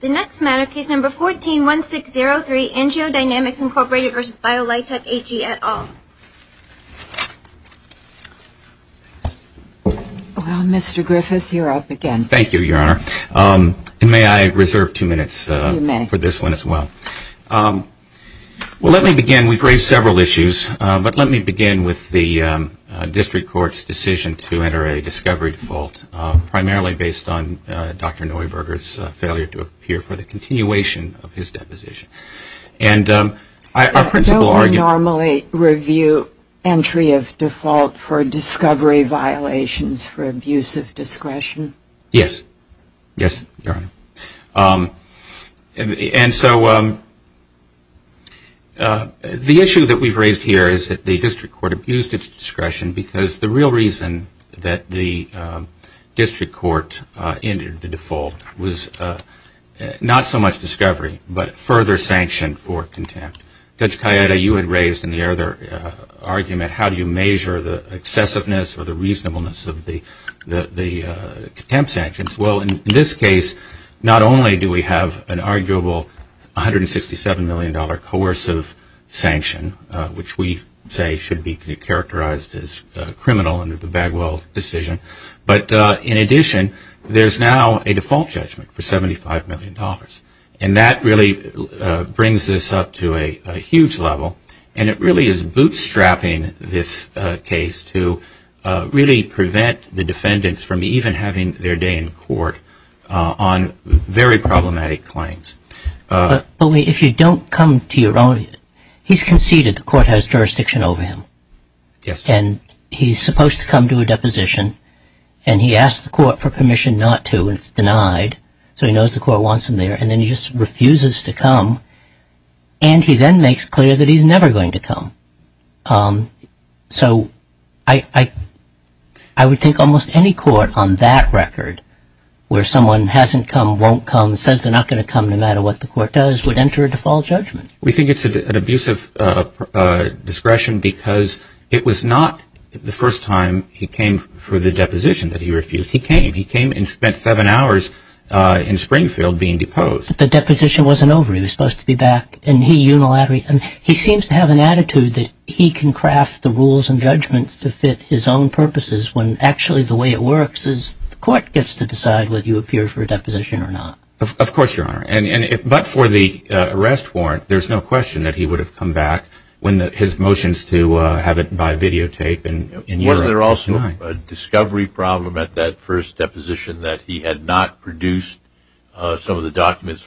The next matter, Case No. 14-1603, AngioDynamics, Inc. v. Biolitec AG, et al. Well, Mr. Griffith, you're up again. Thank you, Your Honor. And may I reserve two minutes for this one as well? You may. Well, let me begin. We've raised several issues, but let me begin with the district court's decision to enter a discovery default, primarily based on Dr. Neuberger's failure to appear for the continuation of his deposition. And our principal argument... Don't we normally review entry of default for discovery violations for abuse of discretion? Yes. Yes, Your Honor. And so the issue that we've raised here is that the district court abused its discretion because the real reason that the district court entered the default was not so much discovery, but further sanction for contempt. Judge Callietta, you had raised in the earlier argument, how do you measure the excessiveness or the reasonableness of the contempt sanctions? Well, in this case, not only do we have an arguable $167 million coercive sanction, which we say should be characterized as criminal under the Bagwell decision, but in addition, there's now a default judgment for $75 million. And that really brings this up to a huge level, and it really is bootstrapping this case to really prevent the defendants from even having their day in court on very problematic claims. But if you don't come to your own... He's conceded the court has jurisdiction over him. Yes. And he's supposed to come to a deposition, and he asks the court for permission not to, and it's denied, so he knows the court wants him there, and then he just refuses to come. And he then makes clear that he's never going to come. So I would think almost any court on that record, where someone hasn't come, won't come, says they're not going to come no matter what the court does, would enter a default judgment. We think it's an abusive discretion because it was not the first time he came for the deposition that he refused. He came. He came and spent seven hours in Springfield being deposed. But the deposition wasn't over. He was supposed to be back, and he, unilaterally, and he seems to have an attitude that he can craft the rules and judgments to fit his own purposes when actually the way it works is the court gets to decide whether you appear for a deposition or not. Of course, Your Honor. But for the arrest warrant, there's no question that he would have come back when his motions to have it by videotape in Europe were denied. Wasn't there also a discovery problem at that first deposition that he had not produced some of the documents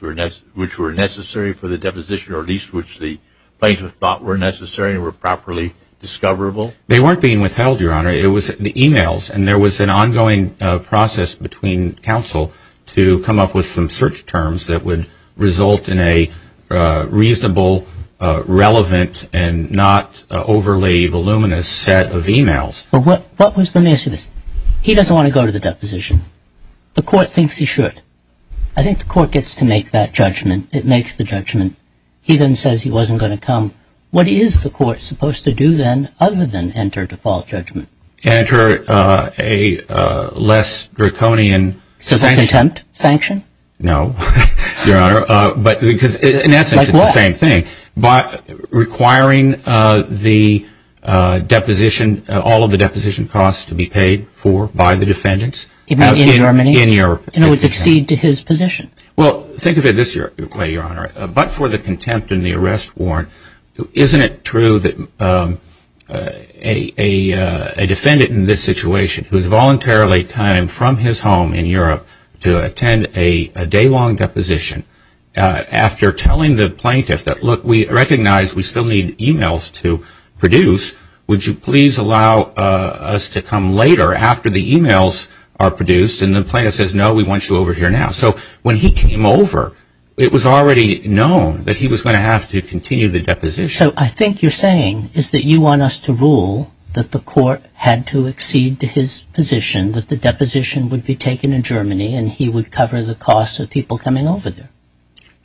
which were necessary for the deposition, or at least which the plaintiff thought were necessary and were properly discoverable? They weren't being withheld, Your Honor. It was the e-mails, and there was an ongoing process between counsel to come up with some search terms that would result in a reasonable, relevant, and not overly voluminous set of e-mails. But what was the message? He doesn't want to go to the deposition. The court thinks he should. I think the court gets to make that judgment. It makes the judgment. He then says he wasn't going to come. What is the court supposed to do then other than enter default judgment? Enter a less draconian sanction. So a contempt sanction? No, Your Honor, because in essence it's the same thing. Like what? Requiring the deposition, all of the deposition costs to be paid for by the defendants. Even in Germany? In Europe. And it would succeed to his position? Well, think of it this way, Your Honor. But for the contempt and the arrest warrant, isn't it true that a defendant in this situation who has voluntarily come from his home in Europe to attend a day-long deposition, after telling the plaintiff that, look, we recognize we still need e-mails to produce. Would you please allow us to come later after the e-mails are produced? And the plaintiff says, no, we want you over here now. So when he came over, it was already known that he was going to have to continue the deposition. So I think you're saying is that you want us to rule that the court had to accede to his position, that the deposition would be taken in Germany and he would cover the costs of people coming over there.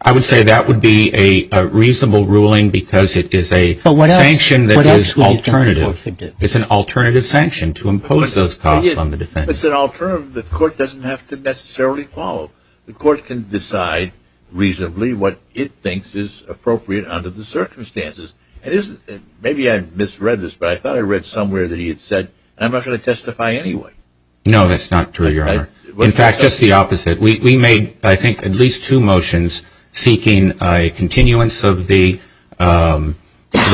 I would say that would be a reasonable ruling because it is a sanction that is alternative. It's an alternative sanction to impose those costs on the defendants. It's an alternative the court doesn't have to necessarily follow. The court can decide reasonably what it thinks is appropriate under the circumstances. Maybe I misread this, but I thought I read somewhere that he had said, I'm not going to testify anyway. No, that's not true, Your Honor. In fact, just the opposite. We made, I think, at least two motions seeking a continuance of the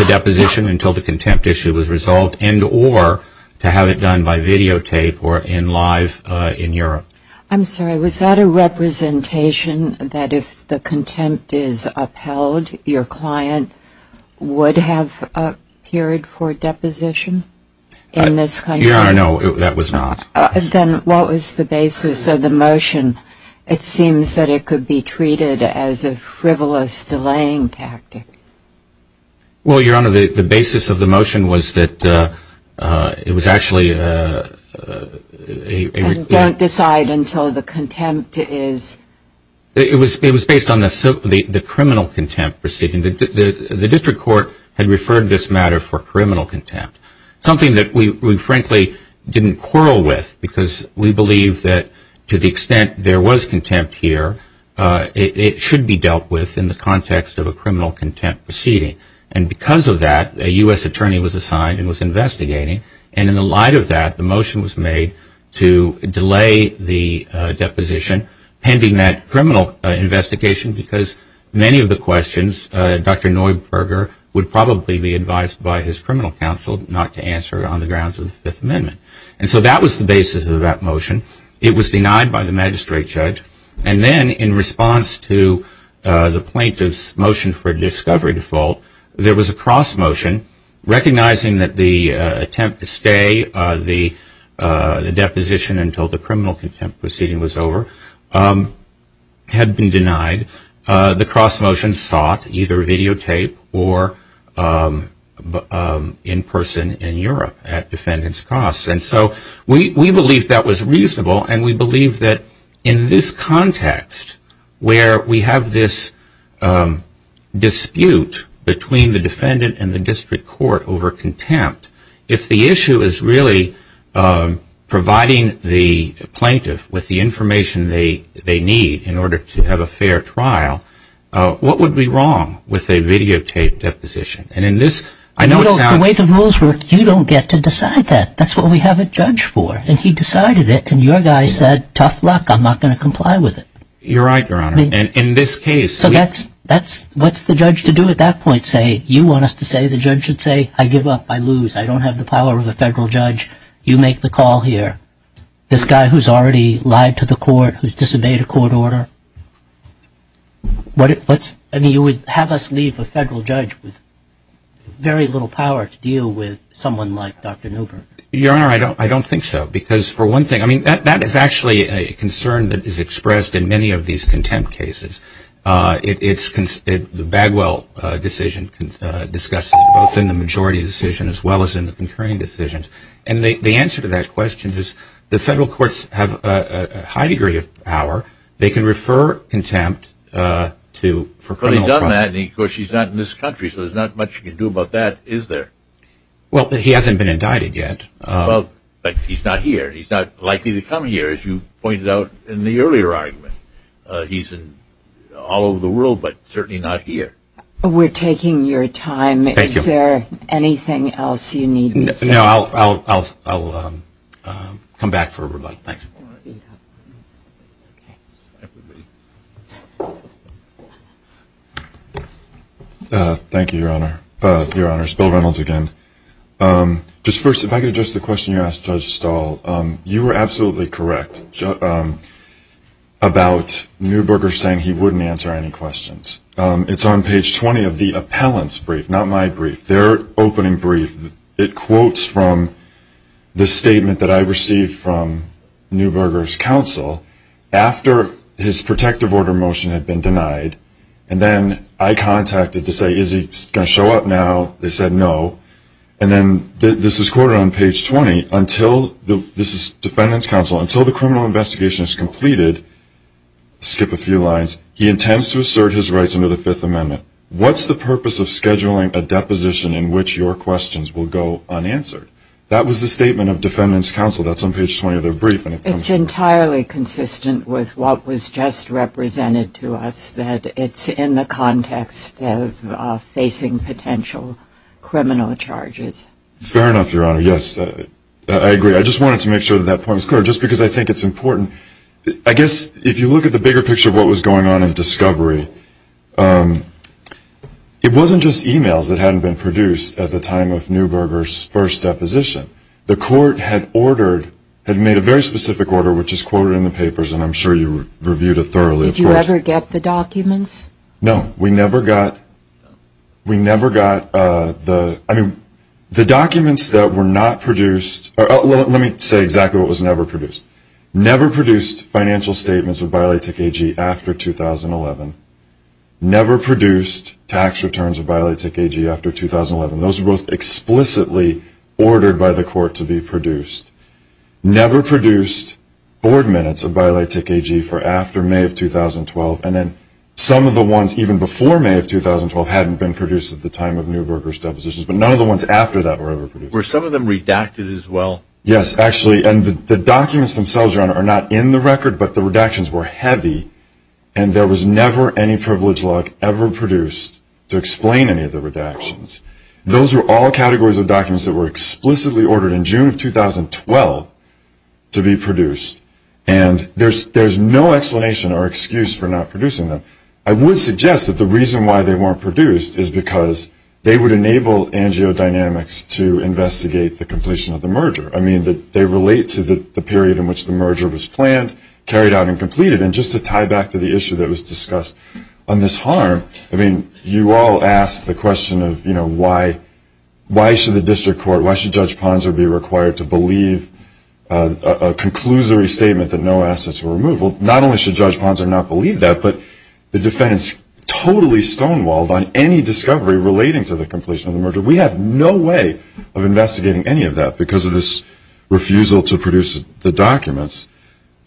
deposition until the contempt issue was resolved and or to have it done by videotape or in live in Europe. I'm sorry, was that a representation that if the contempt is upheld, your client would have appeared for deposition in this country? Your Honor, no, that was not. Then what was the basis of the motion? It seems that it could be treated as a frivolous delaying tactic. Well, Your Honor, the basis of the motion was that it was actually a... Don't decide until the contempt is... It was based on the criminal contempt proceeding. The district court had referred this matter for criminal contempt, something that we frankly didn't quarrel with because we believe that to the extent there was contempt here, it should be dealt with in the context of a criminal contempt proceeding. And because of that, a U.S. attorney was assigned and was investigating. And in the light of that, the motion was made to delay the deposition pending that criminal investigation because many of the questions Dr. Neuberger would probably be advised by his criminal counsel not to answer on the grounds of the Fifth Amendment. And so that was the basis of that motion. It was denied by the magistrate judge. And then in response to the plaintiff's motion for discovery default, there was a cross motion recognizing that the attempt to stay the deposition until the criminal contempt proceeding was over had been denied. The cross motion sought either videotape or in person in Europe at defendant's cost. And so we believe that was reasonable and we believe that in this context where we have this dispute between the defendant and the district court over contempt, if the issue is really providing the plaintiff with the information they need in order to have a fair trial, what would be wrong with a videotaped deposition? The way the rules work, you don't get to decide that. That's what we have a judge for. And he decided it and your guy said, tough luck, I'm not going to comply with it. You're right, Your Honor. And in this case... So what's the judge to do at that point? Say, you want us to say, the judge should say, I give up, I lose, I don't have the power of a federal judge, you make the call here. This guy who's already lied to the court, who's disobeyed a court order, I mean, you would have us leave a federal judge with very little power to deal with someone like Dr. Newberg. Your Honor, I don't think so. Because for one thing, I mean, that is actually a concern that is expressed in many of these contempt cases. It's the Bagwell decision discussed both in the majority decision as well as in the concurring decisions. And the answer to that question is the federal courts have a high degree of power. They can refer contempt for criminal process. But he's done that and, of course, he's not in this country, so there's not much he can do about that, is there? Well, he hasn't been indicted yet. Well, but he's not here. He's not likely to come here, as you pointed out in the earlier argument. He's all over the world, but certainly not here. We're taking your time. Thank you. Is there anything else you need me to say? No, I'll come back for everybody. Thanks. Thank you, Your Honor. Your Honor, it's Bill Reynolds again. Just first, if I could address the question you asked Judge Stahl. You were absolutely correct about Newberger saying he wouldn't answer any questions. It's on page 20 of the appellant's brief, not my brief, their opening brief. It quotes from the statement that I received from Newberger's counsel after his protective order motion had been denied. And then I contacted to say, is he going to show up now? They said no. And then this is quoted on page 20. This is defendant's counsel. Until the criminal investigation is completed, skip a few lines, he intends to assert his rights under the Fifth Amendment. What's the purpose of scheduling a deposition in which your questions will go unanswered? That was the statement of defendant's counsel. That's on page 20 of their brief. It's entirely consistent with what was just represented to us, that it's in the context of facing potential criminal charges. Fair enough, Your Honor, yes. I agree. I just wanted to make sure that that point was clear just because I think it's important. I guess if you look at the bigger picture of what was going on in discovery, it wasn't just e-mails that hadn't been produced at the time of Newberger's first deposition. The court had made a very specific order, which is quoted in the papers, and I'm sure you reviewed it thoroughly. Did you ever get the documents? No. We never got the documents that were not produced. Let me say exactly what was never produced. Never produced financial statements of Biolatech AG after 2011. Never produced tax returns of Biolatech AG after 2011. Those were both explicitly ordered by the court to be produced. Never produced board minutes of Biolatech AG for after May of 2012, and then some of the ones even before May of 2012 hadn't been produced at the time of Newberger's depositions, but none of the ones after that were ever produced. Were some of them redacted as well? Yes, actually, and the documents themselves, Your Honor, are not in the record, but the redactions were heavy, and there was never any privilege log ever produced to explain any of the redactions. Those were all categories of documents that were explicitly ordered in June of 2012 to be produced, and there's no explanation or excuse for not producing them. I would suggest that the reason why they weren't produced is because they would enable AngioDynamics to investigate the completion of the merger. I mean, they relate to the period in which the merger was planned, carried out, and completed, and just to tie back to the issue that was discussed on this harm, I mean, you all asked the question of, you know, why should the district court, why should Judge Ponzer be required to believe a conclusory statement that no assets were removed? Well, not only should Judge Ponzer not believe that, but the defense totally stonewalled on any discovery relating to the completion of the merger. We have no way of investigating any of that because of this refusal to produce the documents.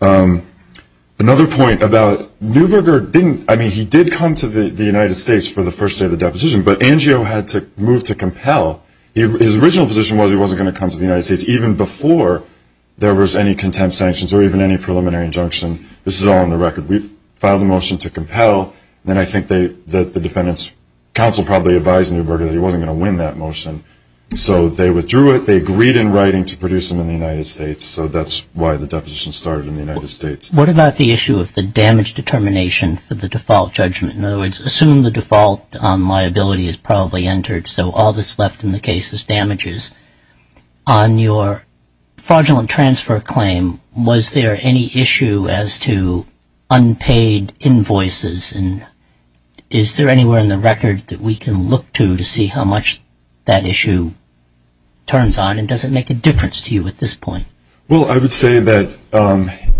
Another point about Neuberger didn't, I mean, he did come to the United States for the first day of the deposition, but Angio had to move to compel. His original position was he wasn't going to come to the United States even before there was any contempt sanctions or even any preliminary injunction. This is all on the record. We've filed a motion to compel, and I think that the defendant's counsel probably advised Neuberger that he wasn't going to win that motion. So they withdrew it. They agreed in writing to produce them in the United States, so that's why the deposition started in the United States. What about the issue of the damage determination for the default judgment? In other words, assume the default liability is probably entered, so all that's left in the case is damages. On your fraudulent transfer claim, was there any issue as to unpaid invoices, and is there anywhere in the record that we can look to to see how much that issue turns on, and does it make a difference to you at this point? Well, I would say that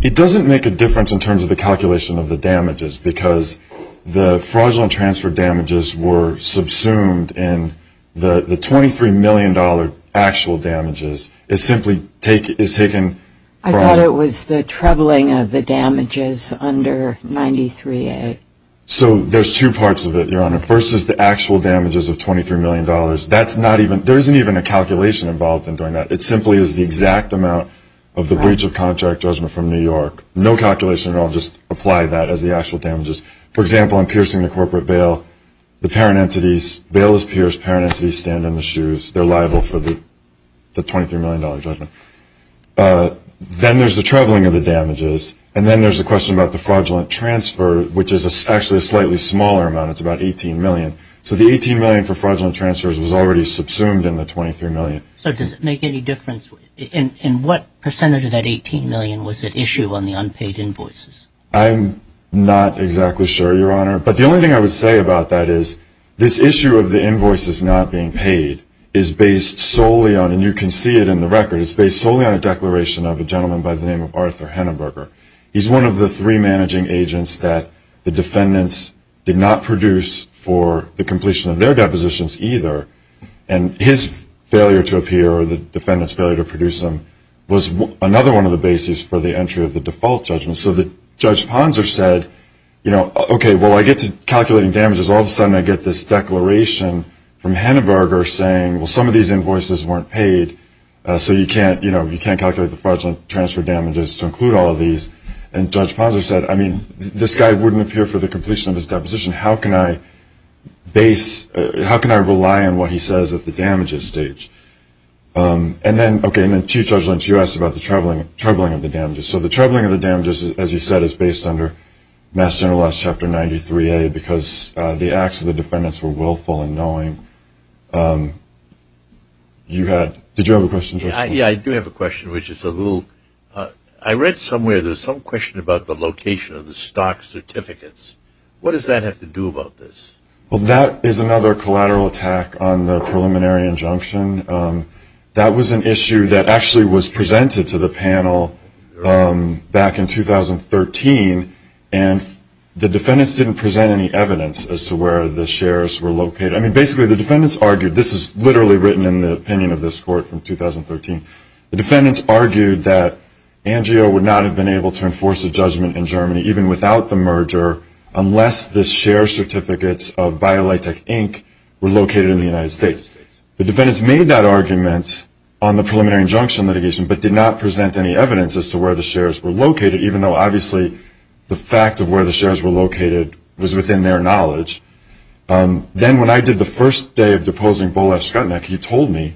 it doesn't make a difference in terms of the calculation of the damages because the fraudulent transfer damages were subsumed, and the $23 million actual damages is simply taken. I thought it was the troubling of the damages under 93A. So there's two parts of it, Your Honor. First is the actual damages of $23 million. There isn't even a calculation involved in doing that. It simply is the exact amount of the breach of contract judgment from New York. No calculation involved. Just apply that as the actual damages. For example, I'm piercing the corporate bail. The bail is pierced. Parent entities stand in the shoes. They're liable for the $23 million judgment. Then there's the troubling of the damages, and then there's the question about the fraudulent transfer, which is actually a slightly smaller amount. It's about $18 million. So the $18 million for fraudulent transfers was already subsumed in the $23 million. So does it make any difference? And what percentage of that $18 million was at issue on the unpaid invoices? I'm not exactly sure, Your Honor, but the only thing I would say about that is this issue of the invoices not being paid is based solely on, and you can see it in the record, it's based solely on a declaration of a gentleman by the name of Arthur Henneberger. He's one of the three managing agents that the defendants did not produce for the completion of their depositions either, and his failure to appear or the defendant's failure to produce them was another one of the bases for the entry of the default judgment. So Judge Ponser said, you know, okay, well, I get to calculating damages. All of a sudden I get this declaration from Henneberger saying, well, some of these invoices weren't paid, so you can't calculate the fraudulent transfer damages to include all of these. And Judge Ponser said, I mean, this guy wouldn't appear for the completion of his deposition. How can I base, how can I rely on what he says at the damages stage? And then, okay, and then Chief Judge Lynch, you asked about the troubling of the damages. So the troubling of the damages, as you said, is based under Mass General Laws Chapter 93A because the acts of the defendants were willful in knowing you had, did you have a question, Judge Ponser? Yeah, I do have a question, which is a little, I read somewhere there's some question about the location of the stock certificates. What does that have to do about this? Well, that is another collateral attack on the preliminary injunction. That was an issue that actually was presented to the panel back in 2013, and the defendants didn't present any evidence as to where the shares were located. I mean, basically the defendants argued, this is literally written in the opinion of this court from 2013, the defendants argued that ANGIO would not have been able to enforce a judgment in Germany, even without the merger, unless the share certificates of BioLitech, Inc. were located in the United States. The defendants made that argument on the preliminary injunction litigation, but did not present any evidence as to where the shares were located, even though obviously the fact of where the shares were located was within their knowledge. Then when I did the first day of deposing Boleh Skutnik, he told me,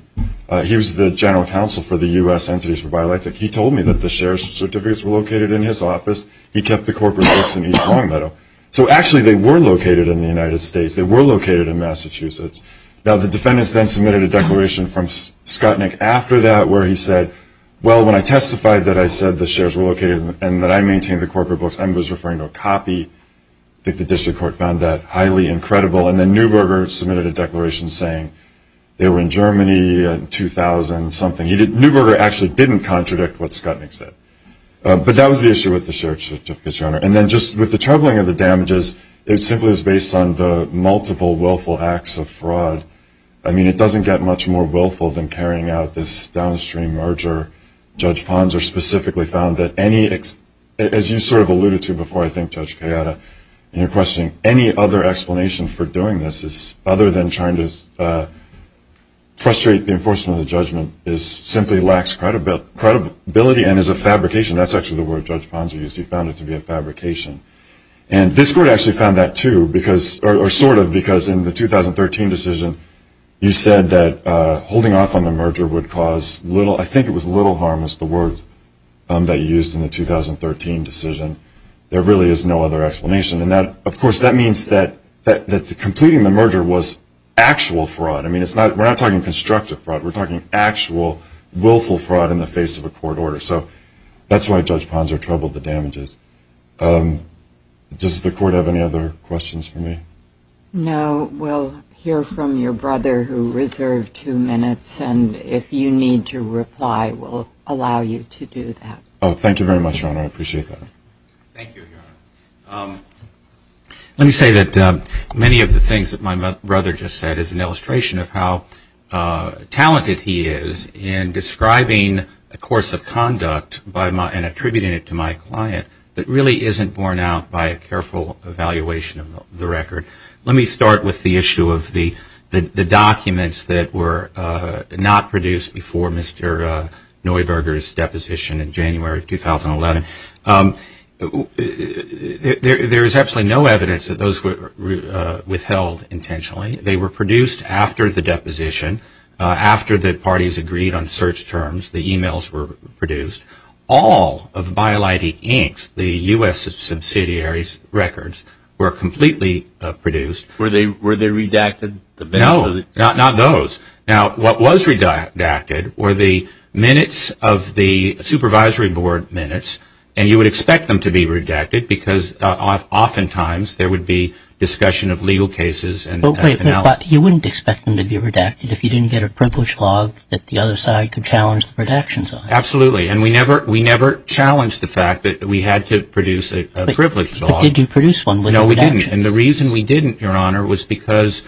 he was the general counsel for the U.S. entities for BioLitech, he told me that the shares certificates were located in his office. He kept the corporate books in East Longmeadow. So actually they were located in the United States. They were located in Massachusetts. Now the defendants then submitted a declaration from Skutnik after that where he said, well, when I testified that I said the shares were located and that I maintained the corporate books, I was referring to a copy. I think the district court found that highly incredible. And then Neuberger submitted a declaration saying they were in Germany in 2000-something. Neuberger actually didn't contradict what Skutnik said. But that was the issue with the shares certificates, Your Honor. And then just with the troubling of the damages, it simply was based on the multiple willful acts of fraud. I mean, it doesn't get much more willful than carrying out this downstream merger. Judge Ponser specifically found that any, as you sort of alluded to before, I think, Judge Kayada, in your question, any other explanation for doing this other than trying to frustrate the enforcement of the judgment, simply lacks credibility and is a fabrication. That's actually the word Judge Ponser used. He found it to be a fabrication. And this court actually found that too, or sort of, because in the 2013 decision, you said that holding off on the merger would cause little, I think it was little harm, was the word that you used in the 2013 decision. There really is no other explanation. And, of course, that means that completing the merger was actual fraud. I mean, we're not talking constructive fraud. We're talking actual willful fraud in the face of a court order. So that's why Judge Ponser troubled the damages. Does the court have any other questions for me? No. We'll hear from your brother, who reserved two minutes. And if you need to reply, we'll allow you to do that. Oh, thank you very much, Your Honor. I appreciate that. Thank you, Your Honor. Let me say that many of the things that my brother just said is an illustration of how talented he is in describing a course of conduct and attributing it to my client that really isn't borne out by a careful evaluation of the record. Let me start with the issue of the documents that were not produced before Mr. Neuberger's deposition in January of 2011. There is absolutely no evidence that those were withheld intentionally. They were produced after the deposition, after the parties agreed on search terms. The e-mails were produced. All of BioLite Inc.'s, the U.S. subsidiary's records, were completely produced. Were they redacted? No, not those. Now, what was redacted were the minutes of the supervisory board minutes, and you would expect them to be redacted because oftentimes there would be discussion of legal cases and everything else. But you wouldn't expect them to be redacted if you didn't get a privilege log that the other side could challenge the redaction side. Absolutely. And we never challenged the fact that we had to produce a privilege log. But did you produce one? No, we didn't. And the reason we didn't, Your Honor, was because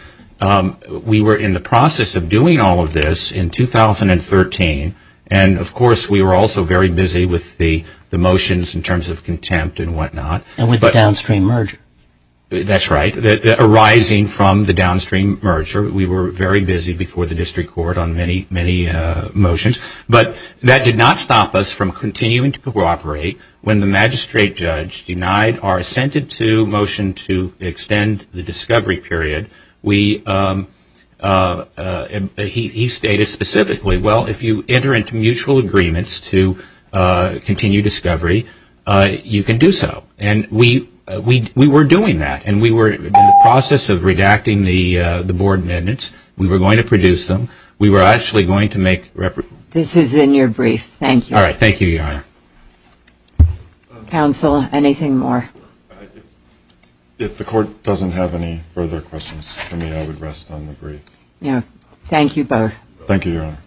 we were in the process of doing all of this in 2013, and of course we were also very busy with the motions in terms of contempt and whatnot. And with the downstream merger. That's right, arising from the downstream merger. We were very busy before the district court on many, many motions. But that did not stop us from continuing to cooperate. When the magistrate judge denied our assented to motion to extend the discovery period, he stated specifically, well, if you enter into mutual agreements to continue discovery, you can do so. And we were doing that, and we were in the process of redacting the board minutes. We were going to produce them. This is in your brief. Thank you. All right. Thank you, Your Honor. Counsel, anything more? If the court doesn't have any further questions for me, I would rest on the brief. Thank you both. Thank you, Your Honor.